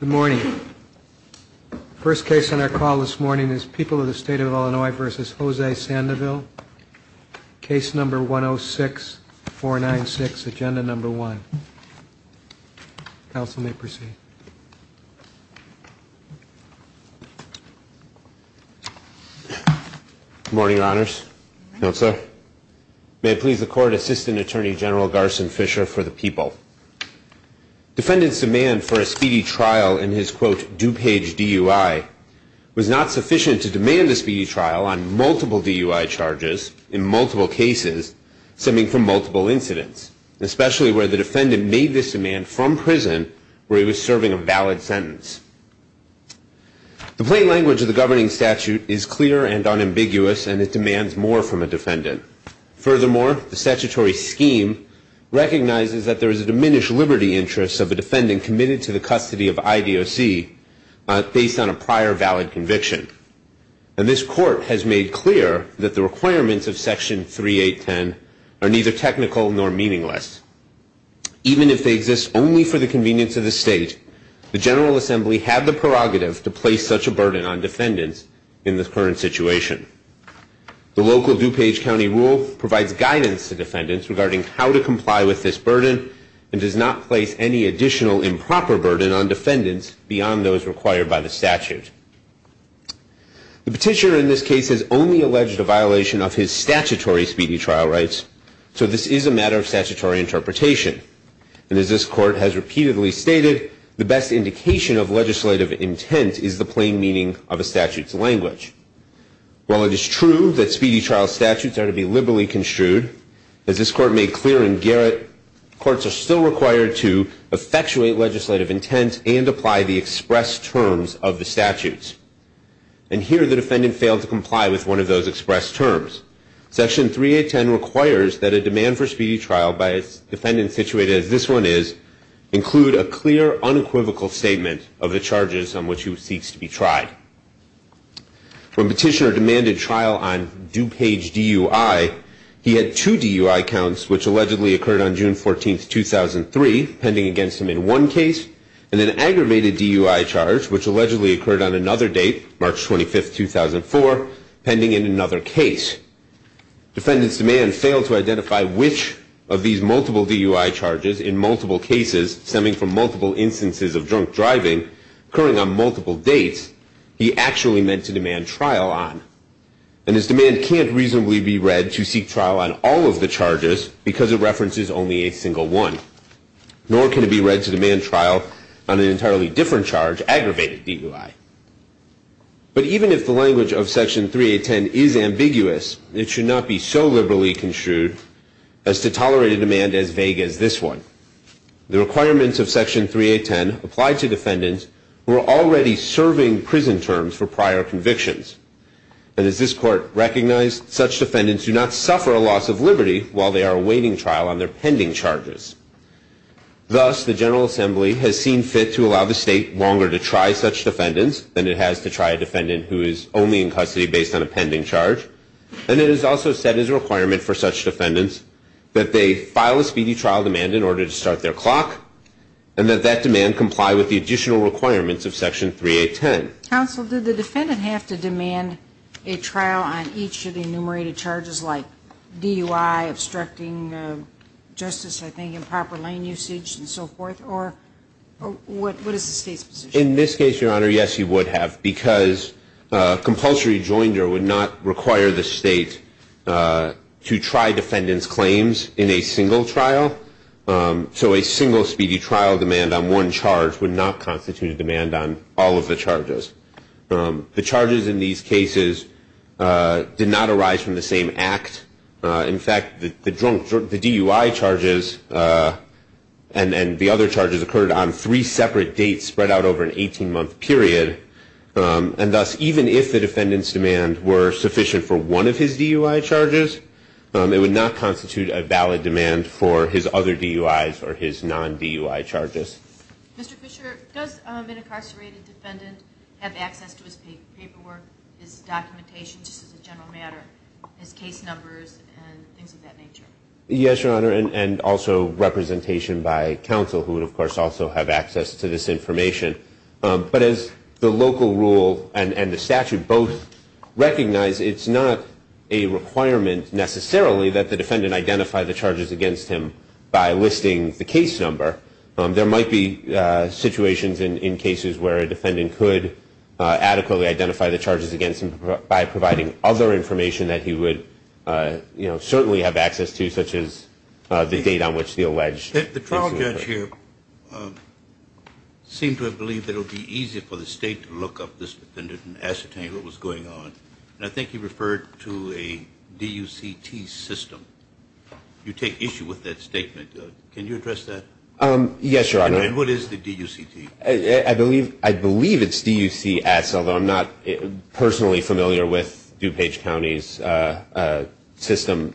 Good morning. First case on our call this morning is People of the State of Illinois v. Jose Sandoval, case number 106496, agenda number one. Counsel may proceed. Good morning, Your Honors, Counselor. May it please the Court, Assistant Attorney General Garson Fisher for the People. Defendant's demand for a speedy trial in his, quote, DuPage DUI was not sufficient to demand a speedy trial on multiple DUI charges in multiple cases stemming from multiple incidents, especially where the defendant made this demand from prison where he was serving a valid sentence. The plain language of the governing statute is clear and unambiguous, and it demands more from a defendant than it demands from a defendant who has a diminished liberty interest of a defendant committed to the custody of IDOC based on a prior valid conviction. And this Court has made clear that the requirements of Section 3810 are neither technical nor meaningless. Even if they exist only for the convenience of the State, the General Assembly have the prerogative to place such a burden on defendants in the current situation. The local DuPage County rule provides guidance to defendants regarding how to conduct a speedy trial and does not place any additional improper burden on defendants beyond those required by the statute. The Petitioner in this case has only alleged a violation of his statutory speedy trial rights, so this is a matter of statutory interpretation. And as this Court has repeatedly stated, the best indication of legislative intent is the plain meaning of a statute's language. While it is true that speedy trial statutes are to be liberally construed, as this Court made clear in Garrett, courts are required to effectuate legislative intent and apply the express terms of the statutes. And here the defendant failed to comply with one of those express terms. Section 3810 requires that a demand for speedy trial by a defendant situated as this one is include a clear unequivocal statement of the charges on which he seeks to be tried. When Petitioner demanded trial on DuPage DUI, he had two DUI counts, which allegedly occurred on June 14, 2003, pending against him in one case, and an aggravated DUI charge, which allegedly occurred on another date, March 25, 2004, pending in another case. Defendant's demand failed to identify which of these multiple DUI charges in multiple cases stemming from multiple instances of drunk driving occurring on multiple dates he actually meant to demand trial on. And his demand can't reasonably be read to seek trial on all of the charges because it references only a single one, nor can it be read to demand trial on an entirely different charge, aggravated DUI. But even if the language of Section 3810 is ambiguous, it should not be so liberally construed as to tolerate a demand as vague as this one. The requirements of Section 3810 apply to defendants who are already serving prison terms for prior convictions. And as this Court recognized, such defendants do not suffer a loss of liberty while they are awaiting trial on their pending charges. Thus, the General Assembly has seen fit to allow the State longer to try such defendants than it has to try a defendant who is only in custody based on a pending charge. And it is also set as a requirement for such defendants that they file a speedy trial demand in order to start their clock, and that that demand comply with the additional requirements of Section 3810. Counsel, did the defendant have to demand a trial on each of the enumerated charges, like DUI, obstructing justice, I think, improper lane usage, and so forth? Or what is the State's position? In this case, Your Honor, yes, he would have, because compulsory joinder would not require the State to try defendants' claims in a single trial. So a single speedy trial demand on one charge would not constitute a demand on all of the charges. The charges in these cases did not arise from the same act. In fact, the DUI charges and the other charges occurred on three separate dates spread out over an 18-month period. And thus, even if the defendant's demands were sufficient for one of his DUI charges, it would not constitute a valid demand for his other DUIs or his non-DUI charges. Mr. Fisher, does an incarcerated defendant have access to his paperwork, his documentation, just as a general matter, his case numbers, and things of that nature? Yes, Your Honor, and also representation by counsel, who would, of course, also have access to this information. But as the local rule and the statute of limitations, it is not a requirement necessarily that the defendant identify the charges against him by listing the case number. There might be situations in cases where a defendant could adequately identify the charges against him by providing other information that he would, you know, certainly have access to, such as the date on which the alleged case would occur. The trial judge here seemed to have believed that it would be easier for the State to look up this defendant and ascertain what was going on. Mr. Fisher, if you have access to a D-U-C-T system, you take issue with that statement. Can you address that? Yes, Your Honor. And what is the D-U-C-T? I believe it's D-U-C-S, although I'm not personally familiar with DuPage County's system.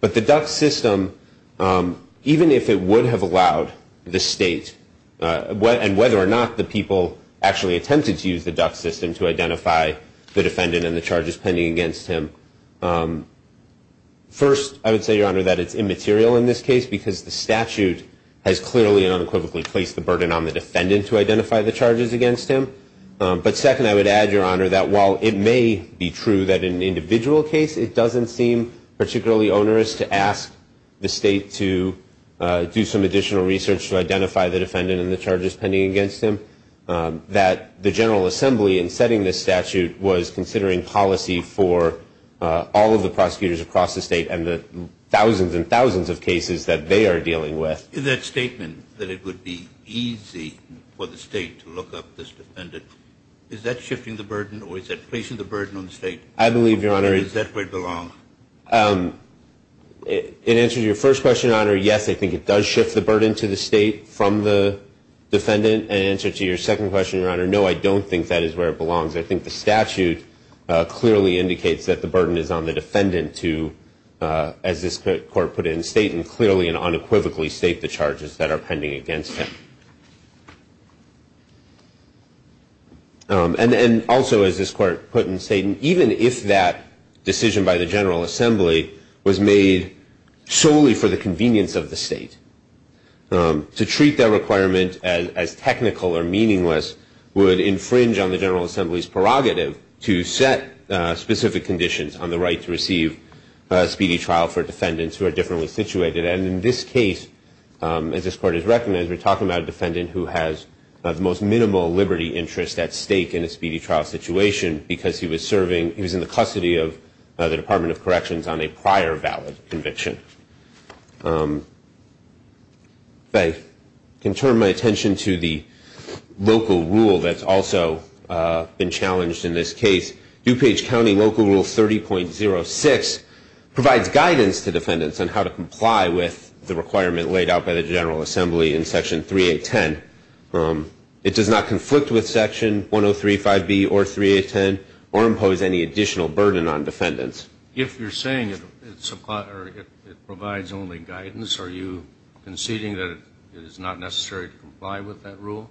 But the DUCS system, even if it would have allowed the defendant to identify the charges against him, it would not have allowed the State to do that. First, I would say, Your Honor, that it's immaterial in this case, because the statute has clearly and unequivocally placed the burden on the defendant to identify the charges against him. But second, I would add, Your Honor, that while it may be true that in an individual case it doesn't seem particularly onerous to ask the State to do some additional research to identify the defendant and the charges against him, it does seem onerous to ask the State to do some additional research to identify the defendant and the charges against him. Is that statement that it would be easy for the State to look up this defendant, is that shifting the burden or is that placing the burden on the State? I believe, Your Honor, it answers your first question, Your Honor, yes, I think it does shift the burden to the State from the defendant. In answer to your second question, Your Honor, no, I don't think that is where it belongs. I think the statute clearly indicates that the burden is on the defendant to, as this Court put it in the State, clearly and unequivocally state the charges that are pending against him. And also, as this Court put in the State, even if that decision by the General Assembly was made solely for the convenience of the State, to treat that requirement as technical or meaningless would infringe on the General Assembly's prerogative to set specific conditions on the right to receive a speedy trial for defendants who are differently situated. And in this case, as this Court has recognized, we're talking about a defendant who has the most minimal liberty interest at stake in a speedy trial situation because he was serving, he was in the custody of the Department of Corrections on a prior valid conviction. If I can turn my attention to the local rule that's also been challenged in this case, DuPage County Local Rule 30.06 provides guidance to a defendant to comply with Section 3.810. It does not conflict with Section 103.5b or 3.810 or impose any additional burden on defendants. If you're saying it provides only guidance, are you conceding that it is not necessary to comply with that rule?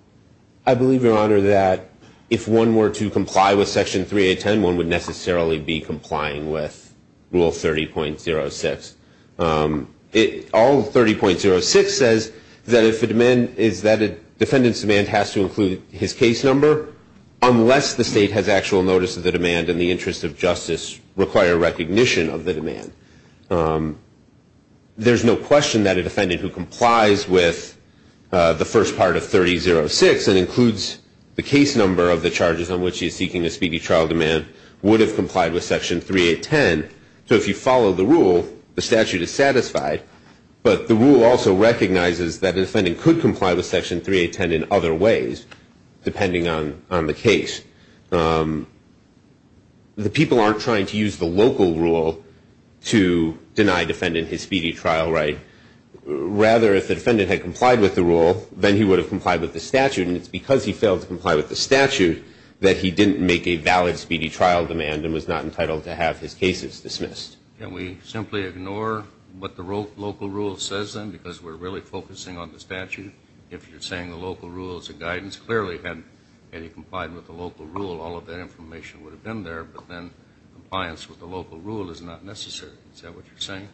I believe, Your Honor, that if one were to comply with Section 3.810, one would necessarily be complying with Rule 30.06. All 30.06 says that if the demand is that a defendant's demand has to include his case number, unless the State has actual notice of the demand and the interest of justice require recognition of the demand. There's no question that a defendant who complies with the first part of 30.06 and includes the case number of the charges on which he is seeking a speedy trial demand would have complied with Section 3.810. So if you follow the rule, the statute is satisfied, but the rule also recognizes that a defendant could comply with Section 3.810 in other ways, depending on the case. The people aren't trying to use the local rule to deny a defendant his speedy trial right. Rather, if the defendant had complied with the rule, then he would have complied with the statute, and it's because he failed to comply with the statute that he didn't make a valid speedy trial demand and was not entitled to have his cases. And if the defendant had complied with the local rule, then he would have been entitled to have his cases dismissed. Can we simply ignore what the local rule says, then, because we're really focusing on the statute? If you're saying the local rule is a guidance, clearly had he complied with the local rule, all of that information would have been there, but then compliance with the local rule is not necessary. Is that what you're saying?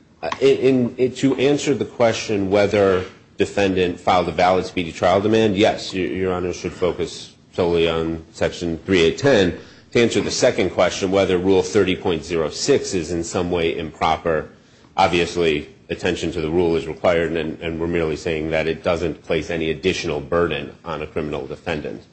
To answer the question whether a defendant filed a valid speedy trial demand, yes, your Honor, should focus solely on Section 3.810. To answer the second question, whether Rule 30.06 is in some way improper, obviously, attention to the rule is required, and we're merely saying that it doesn't place any additional burden on a criminal defendant.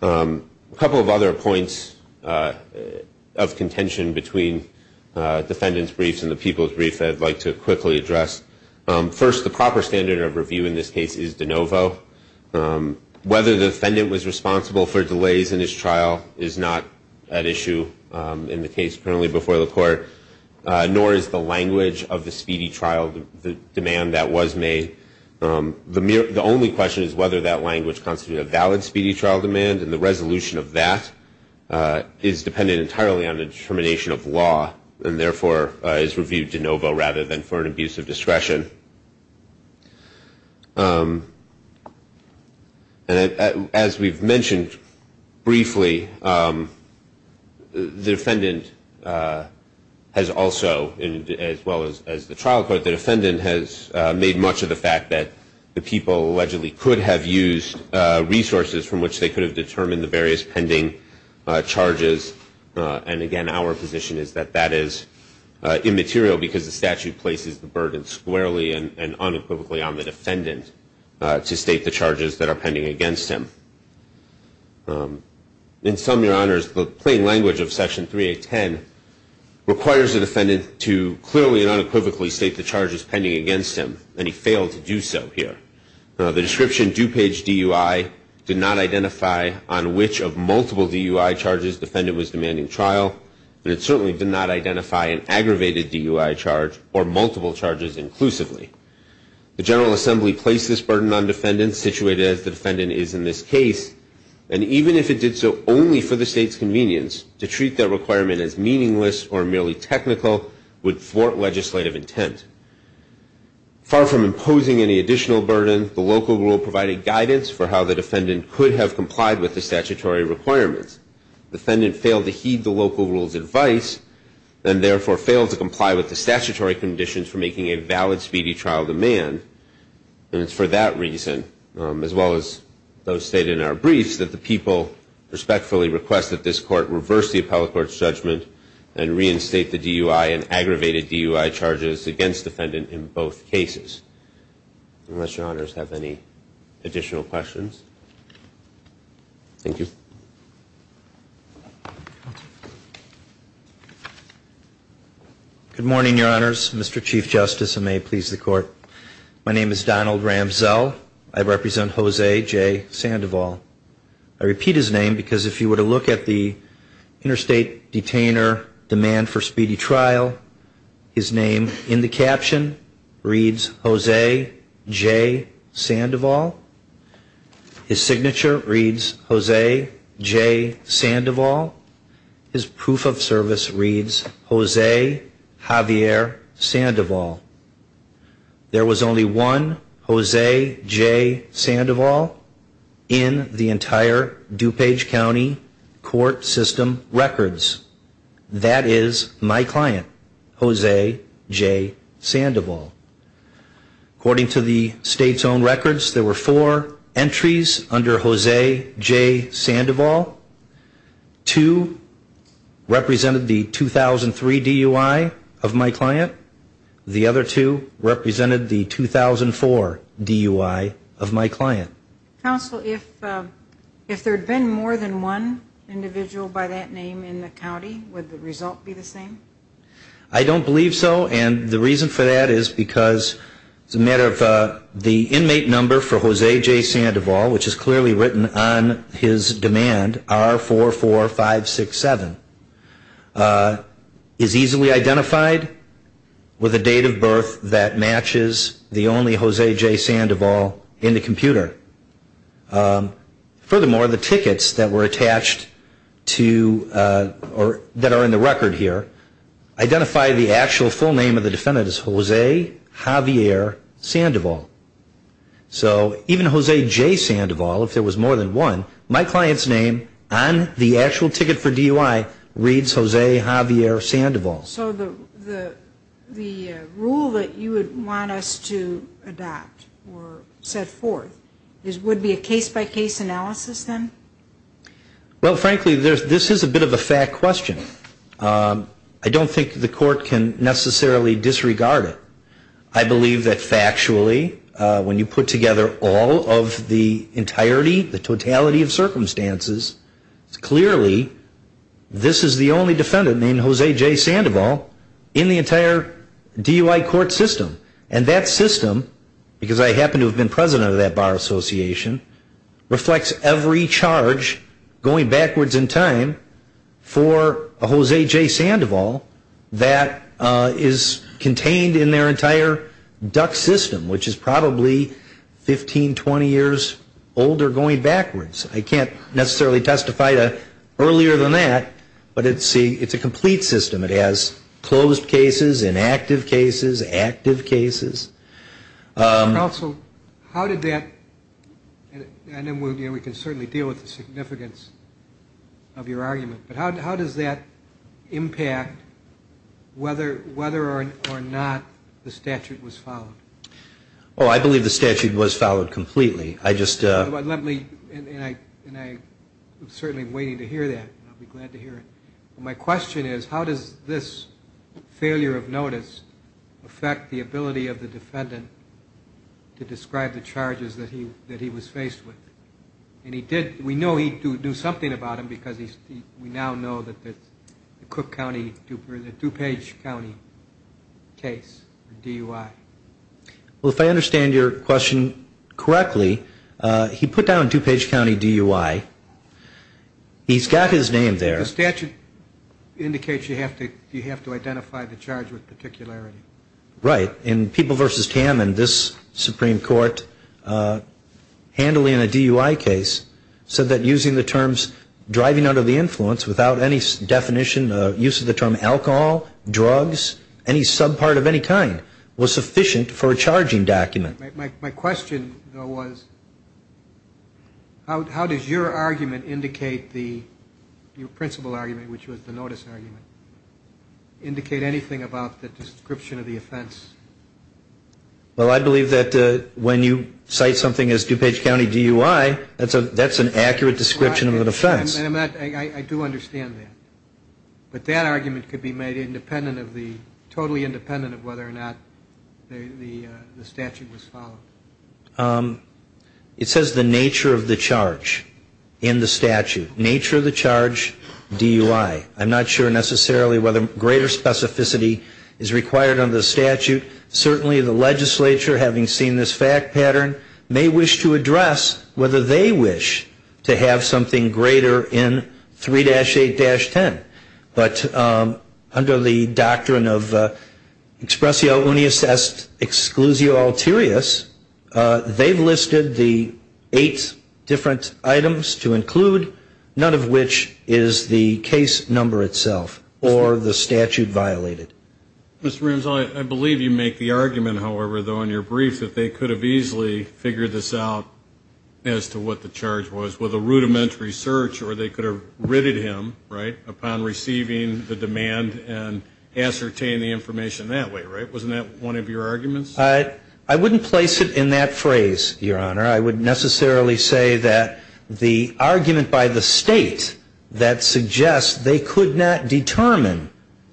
A couple of other points of contention between defendant's briefs and defendant's cases. First, the proper standard of review in this case is de novo. Whether the defendant was responsible for delays in his trial is not at issue in the case currently before the Court, nor is the language of the speedy trial demand that was made. The only question is whether that language constitutes a valid speedy trial demand, and the resolution of that is dependent entirely on the determination of law, and therefore is reviewed de novo rather than for an abuse of discretion. As we've mentioned briefly, the defendant has also, as well as the trial court, the defendant has made much of the fact that the people allegedly could have used resources from which they could have determined the various pending charges, and again, our position is that that is immaterial because the statute places the burden squarely and unequivocally on the defendant to state the charges that are pending against him. In sum, Your Honors, the plain language of Section 3.810 requires the defendant to clearly and unequivocally state the charges pending against him, and he failed to do so here. The description, due page DUI, did not identify on which of multiple DUI charges the defendant was demanding trial, but it certainly did not identify an aggravated DUI charge or multiple charges inclusively. The General Assembly placed this burden on defendants, situated as the defendant is in this case, and even if it did so only for the state's convenience, to treat that requirement as meaningless or merely technical would thwart legislative intent. Far from imposing any additional burden, the local rule provided guidance for how the defendant could have complied with the statutory requirements. The defendant failed to heed the local rule's advice, and therefore failed to comply with the statutory conditions for making a valid speedy trial demand, and it's for that reason, as well as those stated in our briefs, that the people respectfully request that this court reverse the statute and impose a charge against the defendant in both cases. Unless Your Honors have any additional questions. Thank you. Good morning, Your Honors. Mr. Chief Justice, and may it please the Court. My name is Donald Ramselle. I represent Jose J. Sandoval. I repeat his name because if you were to look at the interstate detainer demand for conviction, you would see that his caption reads, Jose J. Sandoval. His signature reads, Jose J. Sandoval. His proof of service reads, Jose Javier Sandoval. There was only one Jose J. Sandoval in the entire DuPage County Court System records. That is my client, Jose J. Sandoval. According to the State's own records, there were four entries under Jose J. Sandoval. Two represented the 2003 DUI of my client. The other two represented the 2004 DUI of my client. Counsel, if there had been more than one individual by that name in the county, would the result be the same? I don't believe so, and the reason for that is because it's a matter of the inmate number for Jose J. Sandoval, which is clearly written on his demand, R44567, is easily identified with a date of birth that matches the only Jose J. Sandoval in the computer. Furthermore, the tickets that were attached to, that are in the record here, are the same. Identify the actual full name of the defendant as Jose Javier Sandoval. So even Jose J. Sandoval, if there was more than one, my client's name on the actual ticket for DUI reads Jose Javier Sandoval. So the rule that you would want us to adopt or set forth would be a case-by-case analysis then? Well, frankly, this is a bit of a fact question. I don't think the court can necessarily disregard it. I believe that factually, when you put together all of the entirety, the totality of circumstances, clearly this is the only defendant named Jose J. Sandoval in the entire DUI court system. And that system, because I happen to have been president of that bar association, reflects every charge that the DUI court has to charge going backwards in time for a Jose J. Sandoval that is contained in their entire duct system, which is probably 15, 20 years older going backwards. I can't necessarily testify to earlier than that, but it's a complete system. It has closed cases, inactive cases, active cases. And also, how did that, and we can certainly deal with the significance of your argument, but how does that impact whether or not the statute was followed? Oh, I believe the statute was followed completely. I just... And I'm certainly waiting to hear that. I'll be glad to hear it. My question is, how does this failure of notice affect the ability of the defendant to describe the charges that he was faced with? And he did, we know he knew something about them, because we now know that the Cook County, the DuPage County case, DUI. Well, if I understand your question correctly, he put down DuPage County DUI. He's got his name there. The statute indicates you have to identify the charge with particularity. Right. And People v. Tammond, this Supreme Court, handily in a DUI case, said that using the terms driving under the influence without any definition, use of the term alcohol, drugs, any subpart of any kind, was sufficient for a charging document. My question, though, was how does your argument indicate the, your principal argument, which was the notice argument, indicate anything about the description of the offense? Well, I believe that when you cite something as DuPage County DUI, that's an accurate description of an offense. I do understand that. But that argument could be made independent of the, totally independent of whether or not the statute was followed. It says the nature of the charge in the statute. Nature of the charge, DUI. I'm not sure necessarily whether greater specificity is required under the statute. Certainly the legislature, having seen this fact pattern, may wish to address whether they wish to have something greater in 3-8-10. But under the doctrine of expressio unius est exclusio alterius, they've listed the eight different items to include, none of which is the case number itself or the statute violated. Mr. Ramsell, I believe you make the argument, however, though, in your brief that they could have easily figured this out as to what the charge was with a rudimentary search or they could have ridded him, right, upon receiving the demand and ascertain the information that way, right? Wasn't that one of your arguments? I wouldn't place it in that phrase, Your Honor. I would necessarily say that the argument by the State that suggests they could not determine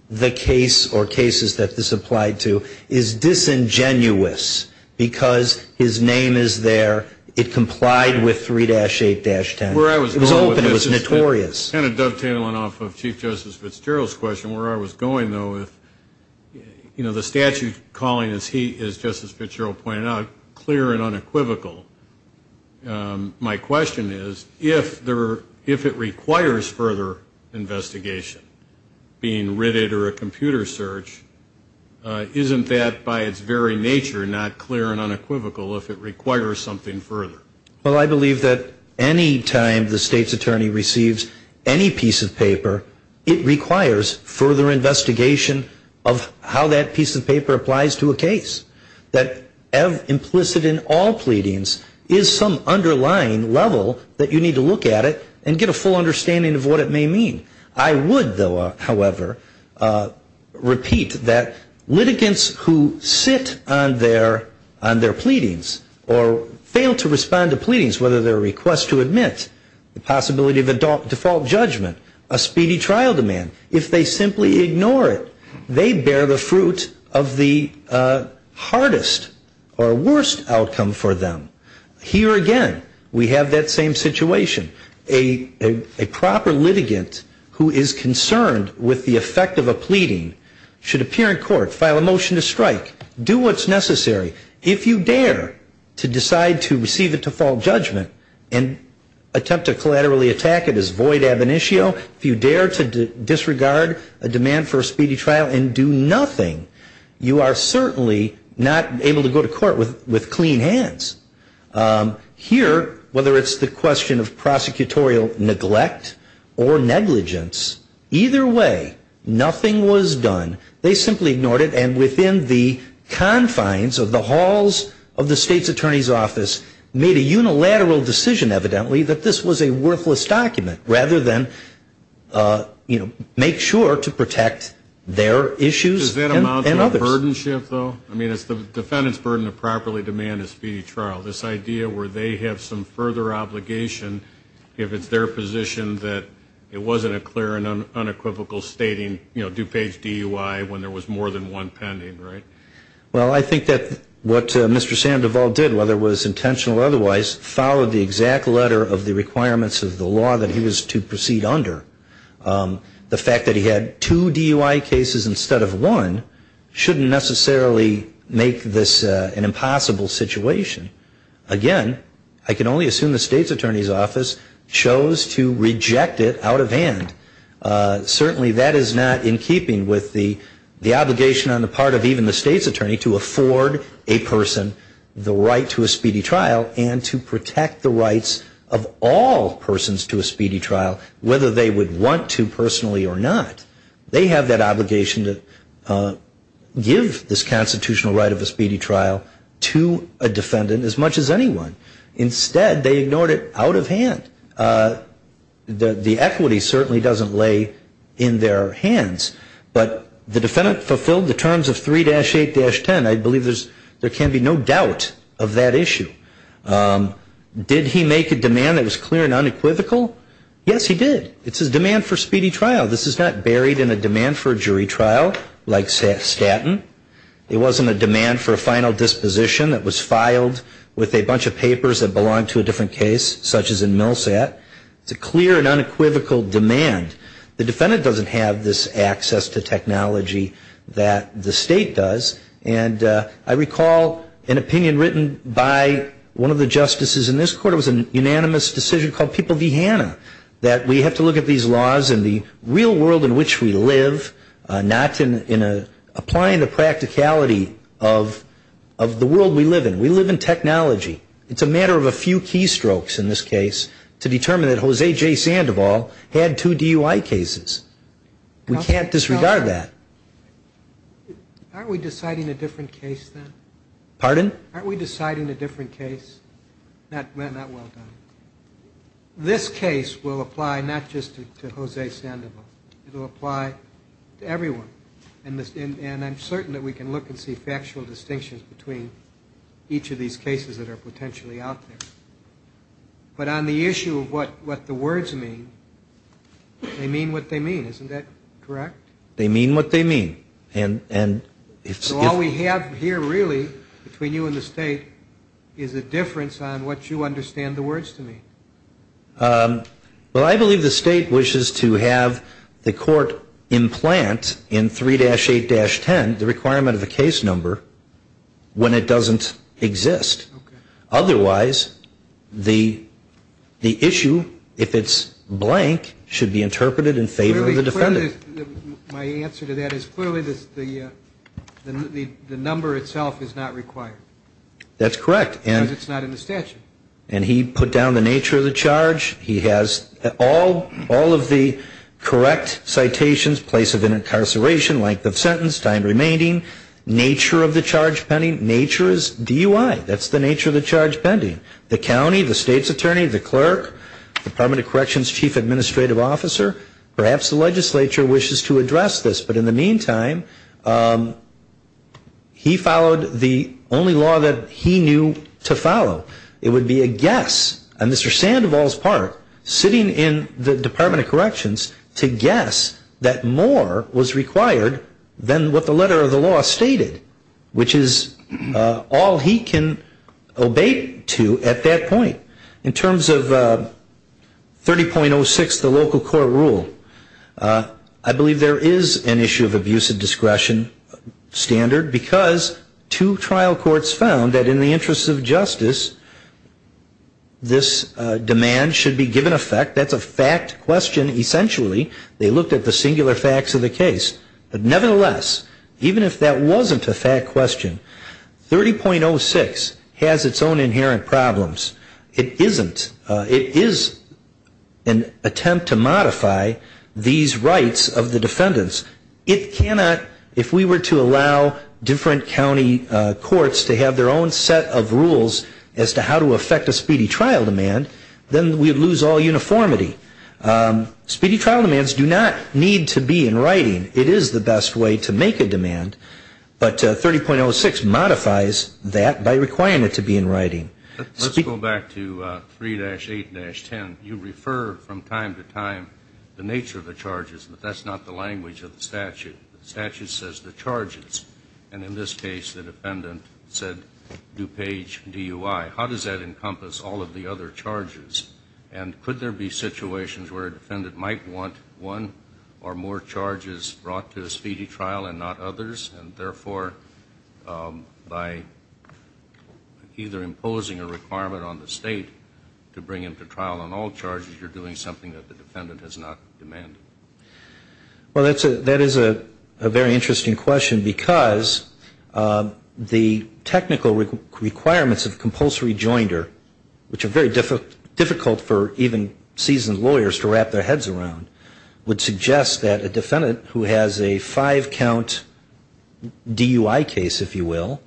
the case or cases that this applied to is disingenuous, because his name is there. It complied with 3-8-10. It was open. It was notorious. Kind of dovetailing off of Chief Justice Fitzgerald's question, where I was going, though, with, you know, the statute calling, as Justice Fitzgerald pointed out, clear and unequivocal. My question is, if it requires further investigation, being ridded or a computerized search, isn't that, by its very nature, not clear and unequivocal if it requires something further? Well, I believe that any time the State's attorney receives any piece of paper, it requires further investigation of how that piece of paper applies to a case. That implicit in all pleadings is some underlying level that you need to look at it and get a full understanding of what it may mean. I would, however, repeat that litigants who sit on their pleadings or fail to respond to pleadings, whether they're a request to admit, the possibility of default judgment, a speedy trial demand, if they simply ignore it, they bear the fruit of the hardest or worst outcome for them. Here, again, we have that same situation. A proper litigant who is concerned with the effect of a pleading should appear in court, file a motion to strike, do what's necessary. If you dare to decide to receive a default judgment and attempt to collaterally attack it as void ab initio, if you dare to disregard a demand for a speedy trial and do nothing, you are certainly not able to go to court with clean hands. Here, whether it's the question of prosecutorial neglect or negligence, either way, nothing was done. They simply ignored it and within the confines of the halls of the State's attorney's office made a unilateral decision, evidently, that this was a worthless document rather than, you know, make sure to protect their issues and others. The burden shift, though, I mean, it's the defendant's burden to properly demand a speedy trial, this idea where they have some further obligation if it's their position that it wasn't a clear and unequivocal stating, you know, due page DUI when there was more than one pending, right? Well, I think that what Mr. Sam DeVault did, whether it was intentional or otherwise, followed the exact letter of the requirements of the law that he was to make this an impossible situation. Again, I can only assume the State's attorney's office chose to reject it out of hand. Certainly that is not in keeping with the obligation on the part of even the State's attorney to afford a person the right to a speedy trial and to protect the rights of all persons to a speedy trial, whether they would want to personally or not. They have that obligation to give this constitutional right of a speedy trial to a defendant as much as anyone. Instead, they ignored it out of hand. The equity certainly doesn't lay in their hands. But the defendant fulfilled the terms of 3-8-10. I believe there can be no doubt of that issue. Did he make a demand that was clear and unequivocal? Yes, he did. It's his demand for speedy trial. This is not bearish evidence. It wasn't carried in a demand for a jury trial like Staten. It wasn't a demand for a final disposition that was filed with a bunch of papers that belonged to a different case, such as in Millsat. It's a clear and unequivocal demand. The defendant doesn't have this access to technology that the State does. And I recall an opinion written by one of the justices in this court. It was a unanimous decision called People v. Hanna that we have to look at these laws in the real world in which we live and not in applying the practicality of the world we live in. We live in technology. It's a matter of a few keystrokes in this case to determine that Jose J. Sandoval had two DUI cases. We can't disregard that. Aren't we deciding a different case then? Pardon? Aren't we deciding a different case? Not well done. This case will apply not just to Jose Sandoval. It will apply to everyone. And I'm certain that we can look and see factual distinctions between each of these cases that are potentially out there. But on the issue of what the words mean, they mean what they mean. Isn't that correct? They mean what they mean. So all we have here really between you and the State is a difference on what you understand the words to mean. Well, I believe the State wishes to have the court implant in 3-8-10 the requirement of a case number when it doesn't exist. Otherwise, the issue, if it's blank, should be interpreted in favor of the defendant. My answer to that is clearly the number itself is not required. That's correct. Because it's not in the statute. And he put down the nature of the charge. He has all of the correct citations, place of incarceration, length of sentence, time I don't know if the legislature wishes to address this, but in the meantime, he followed the only law that he knew to follow. It would be a guess on Mr. Sandoval's part, sitting in the Department of Corrections, to guess that more was required than what the letter of the law stated, which is all he can obey to at that point. In terms of 30.06, the local court rule, I believe there is an issue of abuse of discretion standard, because two trial courts found that in the interest of justice, this demand should be given effect. That's a fact question, essentially. They looked at the singular facts of the case. But nevertheless, even if that wasn't a fact question, 30.06 has its own inherent problems. It isn't. It is an attempt to modify these rights of the defendants. It cannot, if we were to allow different county courts to have their own set of rules as to how to effect a speedy trial demand, then we would lose all uniformity. Speedy trial demands do not need to be in writing. It is the best way to make a demand, but 30.06 modifies that by requiring it to be in writing. Let's go back to 3-8-10. You refer from time to time the nature of the charges, but that's not the language of the statute. The statute says the charges, and in this case the defendant said DuPage DUI. How does that encompass all of the other charges? And could there be situations where a defendant might want one or more charges brought to a speedy trial and not others, and therefore by either imposing a requirement on the State to bring him to trial on all charges, you're doing something that the defendant has not demanded? Well, that is a very interesting question, because the technical requirements of compulsory joinder, which are very difficult for even seasoned lawyers to wrap their heads around, would suggest that a defendant who has a five-count DUI case, if you will,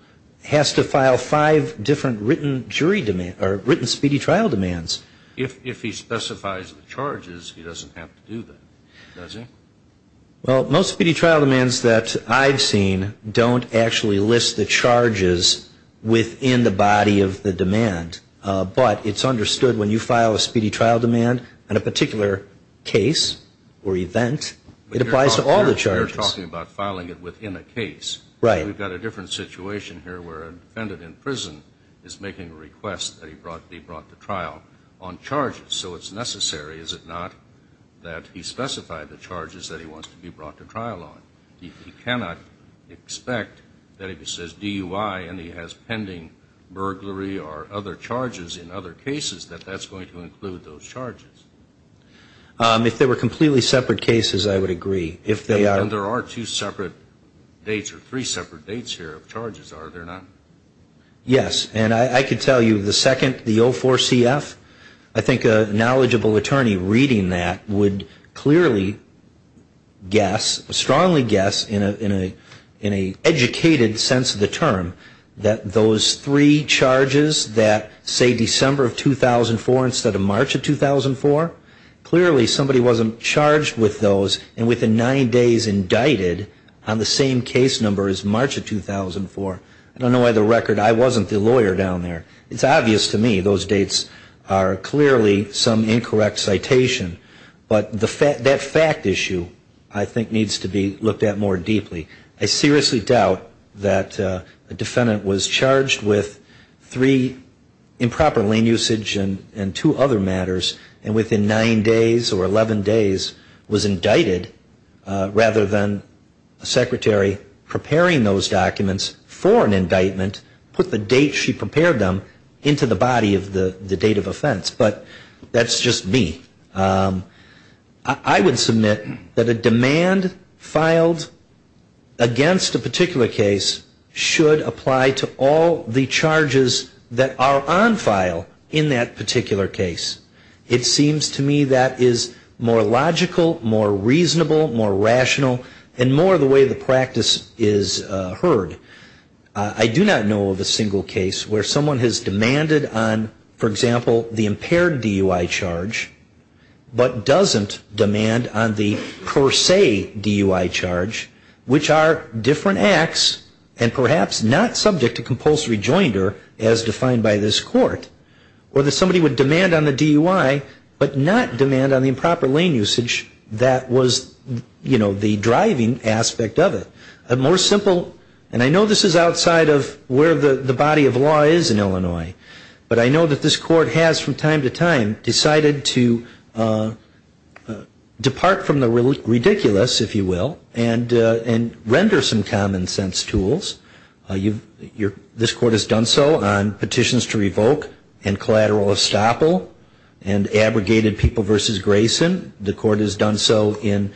has to file five different written speedy trial demands. If he specifies the charges, he doesn't have to do that, does he? Well, most speedy trial demands that I've seen don't actually list the charges within the body of the demand, but it's understood when you file a speedy trial demand on a particular case or event, it applies to all the charges. You're talking about filing it within a case. We've got a different situation here where a defendant in prison is making a request that he be brought to trial on charges. So it's necessary, is it not, that he specify the charges that he wants to be brought to trial on? He cannot expect that if he says DUI and he has pending burglary or other charges in other cases, that that's going to include those charges. If they were completely separate cases, I would agree. And there are two separate dates or three separate dates here of charges, are there not? Yes, and I could tell you the second, the 04-CF, I think a knowledgeable attorney reading that would clearly guess, strongly guess, in an educated sense of the term, that those three charges that say December of 2004 instead of March of 2004, clearly somebody wasn't charged with those and within nine days indicted on the same case number as March of 2004. I don't know why the record, I wasn't the lawyer down there. It's obvious to me those dates are clearly some incorrect citation. But that fact issue, I think, needs to be looked at more deeply. I seriously doubt that a defendant was charged with three improper lane usage and two other matters, and within nine days or 11 days was indicted, rather than a secretary preparing those documents for an indictment, put the date she prepared them into the body of the date of offense. But that's just me. I would submit that a demand filed against a particular case should apply to all the charges that are on file in that particular case. To me, that is more logical, more reasonable, more rational, and more the way the practice is heard. I do not know of a single case where someone has demanded on, for example, the impaired DUI charge, but doesn't demand on the per se DUI charge, which are different acts and perhaps not subject to compulsory joinder as defined by this court. Or that somebody would demand on the DUI, but not demand on the improper lane usage that was, you know, the driving aspect of it. More simple, and I know this is outside of where the body of law is in Illinois, but I know that this court has from time to time decided to depart from the ridiculous, if you will, and render some common sense tools. This court has done so on petitions to revoke and collateral estoppel and abrogated people versus Grayson. The court has done so in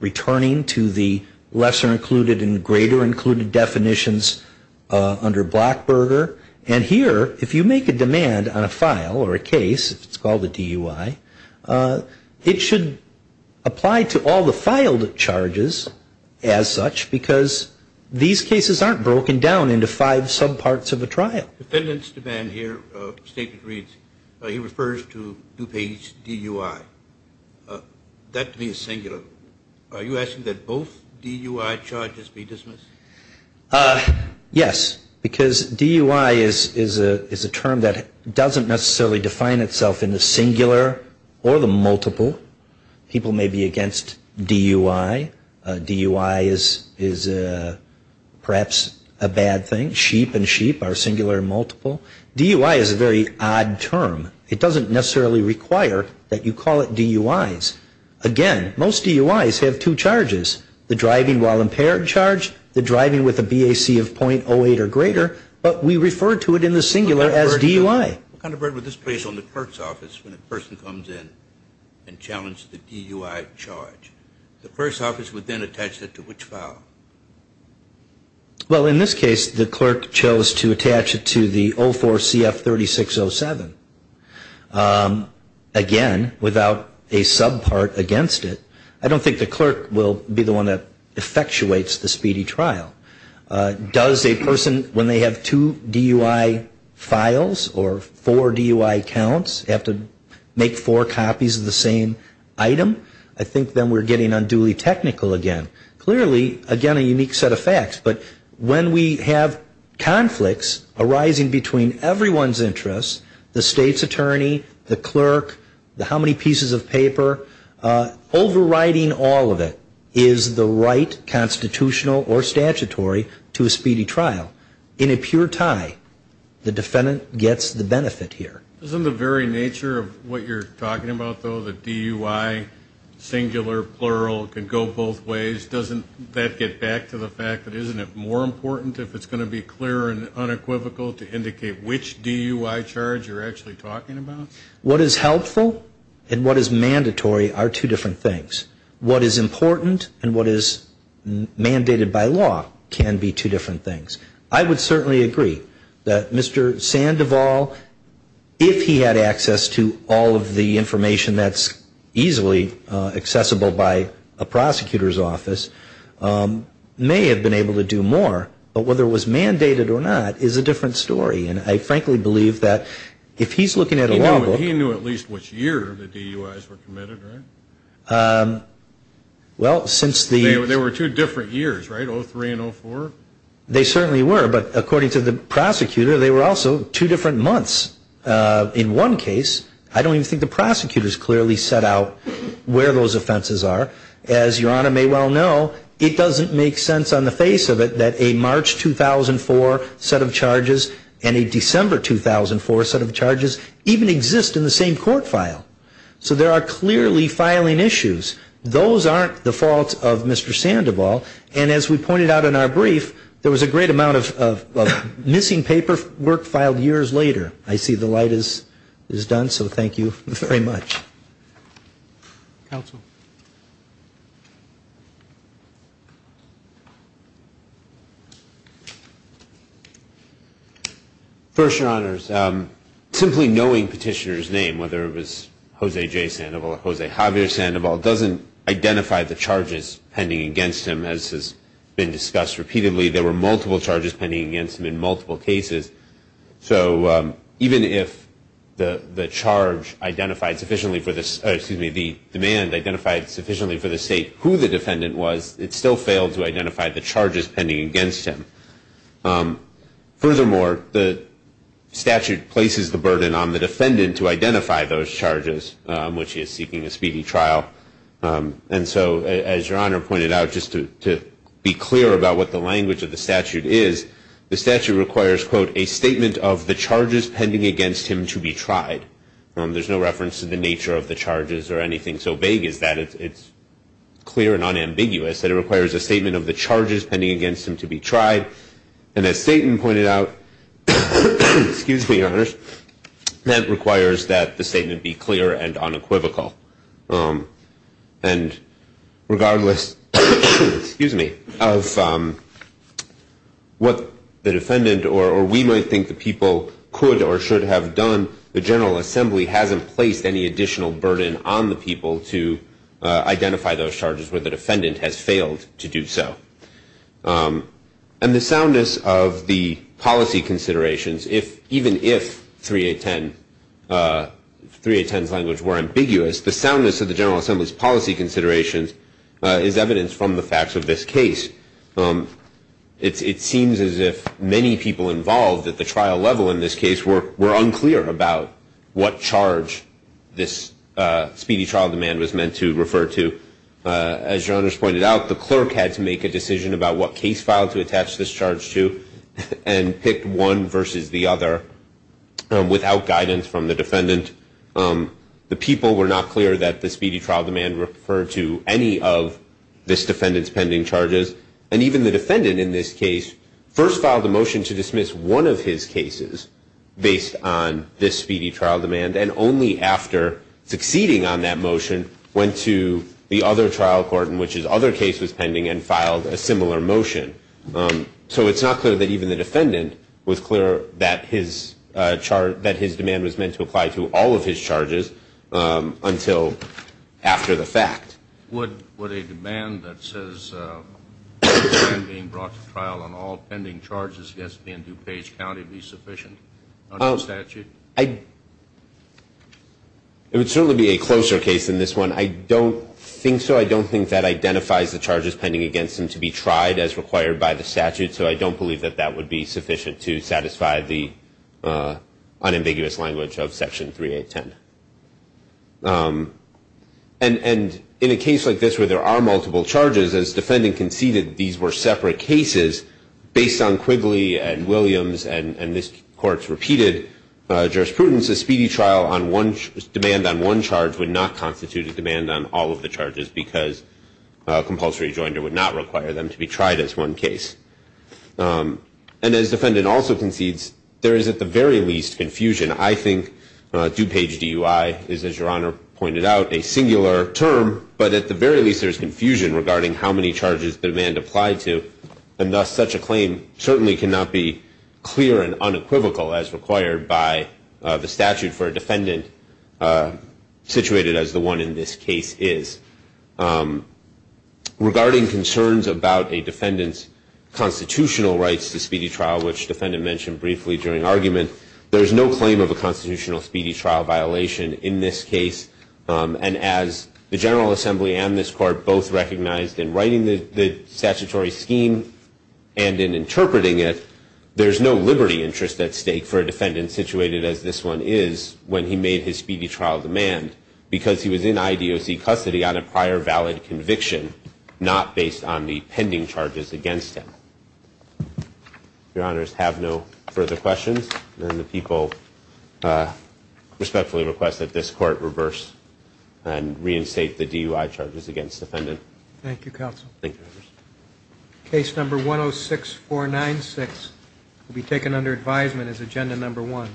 returning to the lesser included and greater included definitions under Blackburger. And here, if you make a demand on a file or a case, if it's called a DUI, it should apply to all the filed charges as such, because these cases aren't broken down into five subparts of a trial. Defendant's demand here stated reads, he refers to DuPage DUI, that to be a singular. Are you asking that both DUI charges be dismissed? Yes, because DUI is a term that doesn't necessarily define itself in the singular or the multiple. People may be against DUI. DUI is perhaps a bad thing. Sheep and sheep are singular and multiple. DUI is a very odd term. It doesn't necessarily require that you call it DUIs. Again, most DUIs have two charges, the driving while impaired charge, the driving with a BAC of .08 or greater, but we refer to it in the singular as DUI. What kind of burden would this place on the clerk's office when a person comes in and challenges the DUI charge? The clerk's office would then attach it to which file? Well, in this case, the clerk chose to attach it to the 04 CF 3607. Again, without a subpart against it, I don't think the clerk will be the one that effectuates the speedy trial. Does a person, when they have two DUI files or four DUI counts, have to make four copies of the same item? I think then we're getting unduly technical again. Clearly, again, a unique set of facts. But when we have conflicts arising between everyone's interests, the state's attorney, the clerk, the how many pieces of paper, overriding all of it is the right constitutional or statutory to a speedy trial. In a pure tie, the defendant gets the benefit here. Isn't the very nature of what you're talking about, though, the DUI, singular, plural, can go both ways? Doesn't that get back to the fact that isn't it more important if it's going to be clear and unequivocal to indicate which DUI charge you're actually talking about? What is helpful and what is mandatory are two different things. What is important and what is mandated by law can be two different things. I would certainly agree that Mr. Sandoval, if he had access to all of the information that's easily accessible by a prosecutor's office, may have been able to do more. But whether it was mandated or not is a different story. And I frankly believe that if he's looking at a law book... He knew at least which year the DUIs were committed, right? There were two different years, right, 03 and 04? They certainly were, but according to the prosecutor, they were also two different months. In one case, I don't even think the prosecutors clearly set out where those offenses are. As Your Honor may well know, it doesn't make sense on the face of it that a March 2004 set of charges and a December 2004 set of charges even exist in the same court file. So there are clearly filing issues. Those aren't the fault of Mr. Sandoval. And as we pointed out in our brief, there was a great amount of missing paperwork filed years later. I see the light is done, so thank you very much. First, Your Honors, simply knowing Petitioner's name, whether it was Jose J. Sandoval or Jose Javier Sandoval, doesn't identify the charges pending against him as has been discussed repeatedly. There were multiple charges pending against him in multiple cases. So even if the demand identified sufficiently for the State who the defendant was, it still failed to identify the charges pending against him. Furthermore, the statute places the burden on the defendant to identify those charges, which is seeking a speedy trial. And so, as Your Honor pointed out, just to be clear about what the language of the statute is, the statute requires, quote, a statement of the charges pending against him to be tried. There's no reference to the nature of the charges or anything so vague as that. It's clear and unambiguous that it requires a statement of the charges pending against him to be tried. And as Staten pointed out, that requires that the statement be clear and unequivocal. And regardless of what the defendant or we might think the people could or should have done, the General Assembly hasn't placed any additional burden on the people to identify those charges where the defendant has failed to do so. And the soundness of the policy considerations, even if 3.810's language were ambiguous, the soundness of the General Assembly's policy considerations is evidence from the facts of this case. It seems as if many people involved at the trial level in this case were unclear about what charge this speedy trial demand was meant to refer to. As Your Honor's pointed out, the clerk had to make a decision about what case file to attach this charge to, and picked one versus the other without guidance from the defendant. The people were not clear that the speedy trial demand referred to any of this defendant's pending charges. And even the defendant in this case first filed a motion to dismiss one of his cases based on this speedy trial demand, and only after succeeding on that motion went to the other trial court in which his other case was pending and filed a similar motion. So it's not clear that even the defendant was clear that his demand was meant to apply to all of his cases. It's not clear that his demand was meant to apply to all of his charges until after the fact. Would a demand that says a man being brought to trial on all pending charges against me in DuPage County be sufficient under the statute? It would certainly be a closer case than this one. I don't think so. I don't think that identifies the charges pending against him to be tried as required by the statute, and I don't think that's the case that we may attend. And in a case like this where there are multiple charges, as defendant conceded these were separate cases, based on Quigley and Williams and this court's repeated jurisprudence, a speedy trial demand on one charge would not constitute a demand on all of the charges because a compulsory rejoinder would not require them to be tried as one case. And as defendant also concedes, there is at the very least confusion. I think DuPage DUI is, as Your Honor pointed out, a singular term, but at the very least there is confusion regarding how many charges the demand applied to, and thus such a claim certainly cannot be clear and unequivocal as required by the statute for a defendant situated as the one in this case is. Regarding concerns about a defendant's constitutional rights to speedy trial, which defendant mentioned briefly during argument, there is no claim of a constitutional speedy trial violation in this case, and as the General Assembly and this court both recognized in writing the statutory scheme and in interpreting it, there is no liberty interest at stake for a defendant situated as this one is when he made his speedy trial demand because he was in IDOC custody on a prior valid conviction, not based on the pending charges against him. If Your Honors have no further questions, then the people respectfully request that this court reverse and reinstate the DUI charges against defendant. Thank you, Counsel. Case number 106496 will be taken under advisement as agenda number one.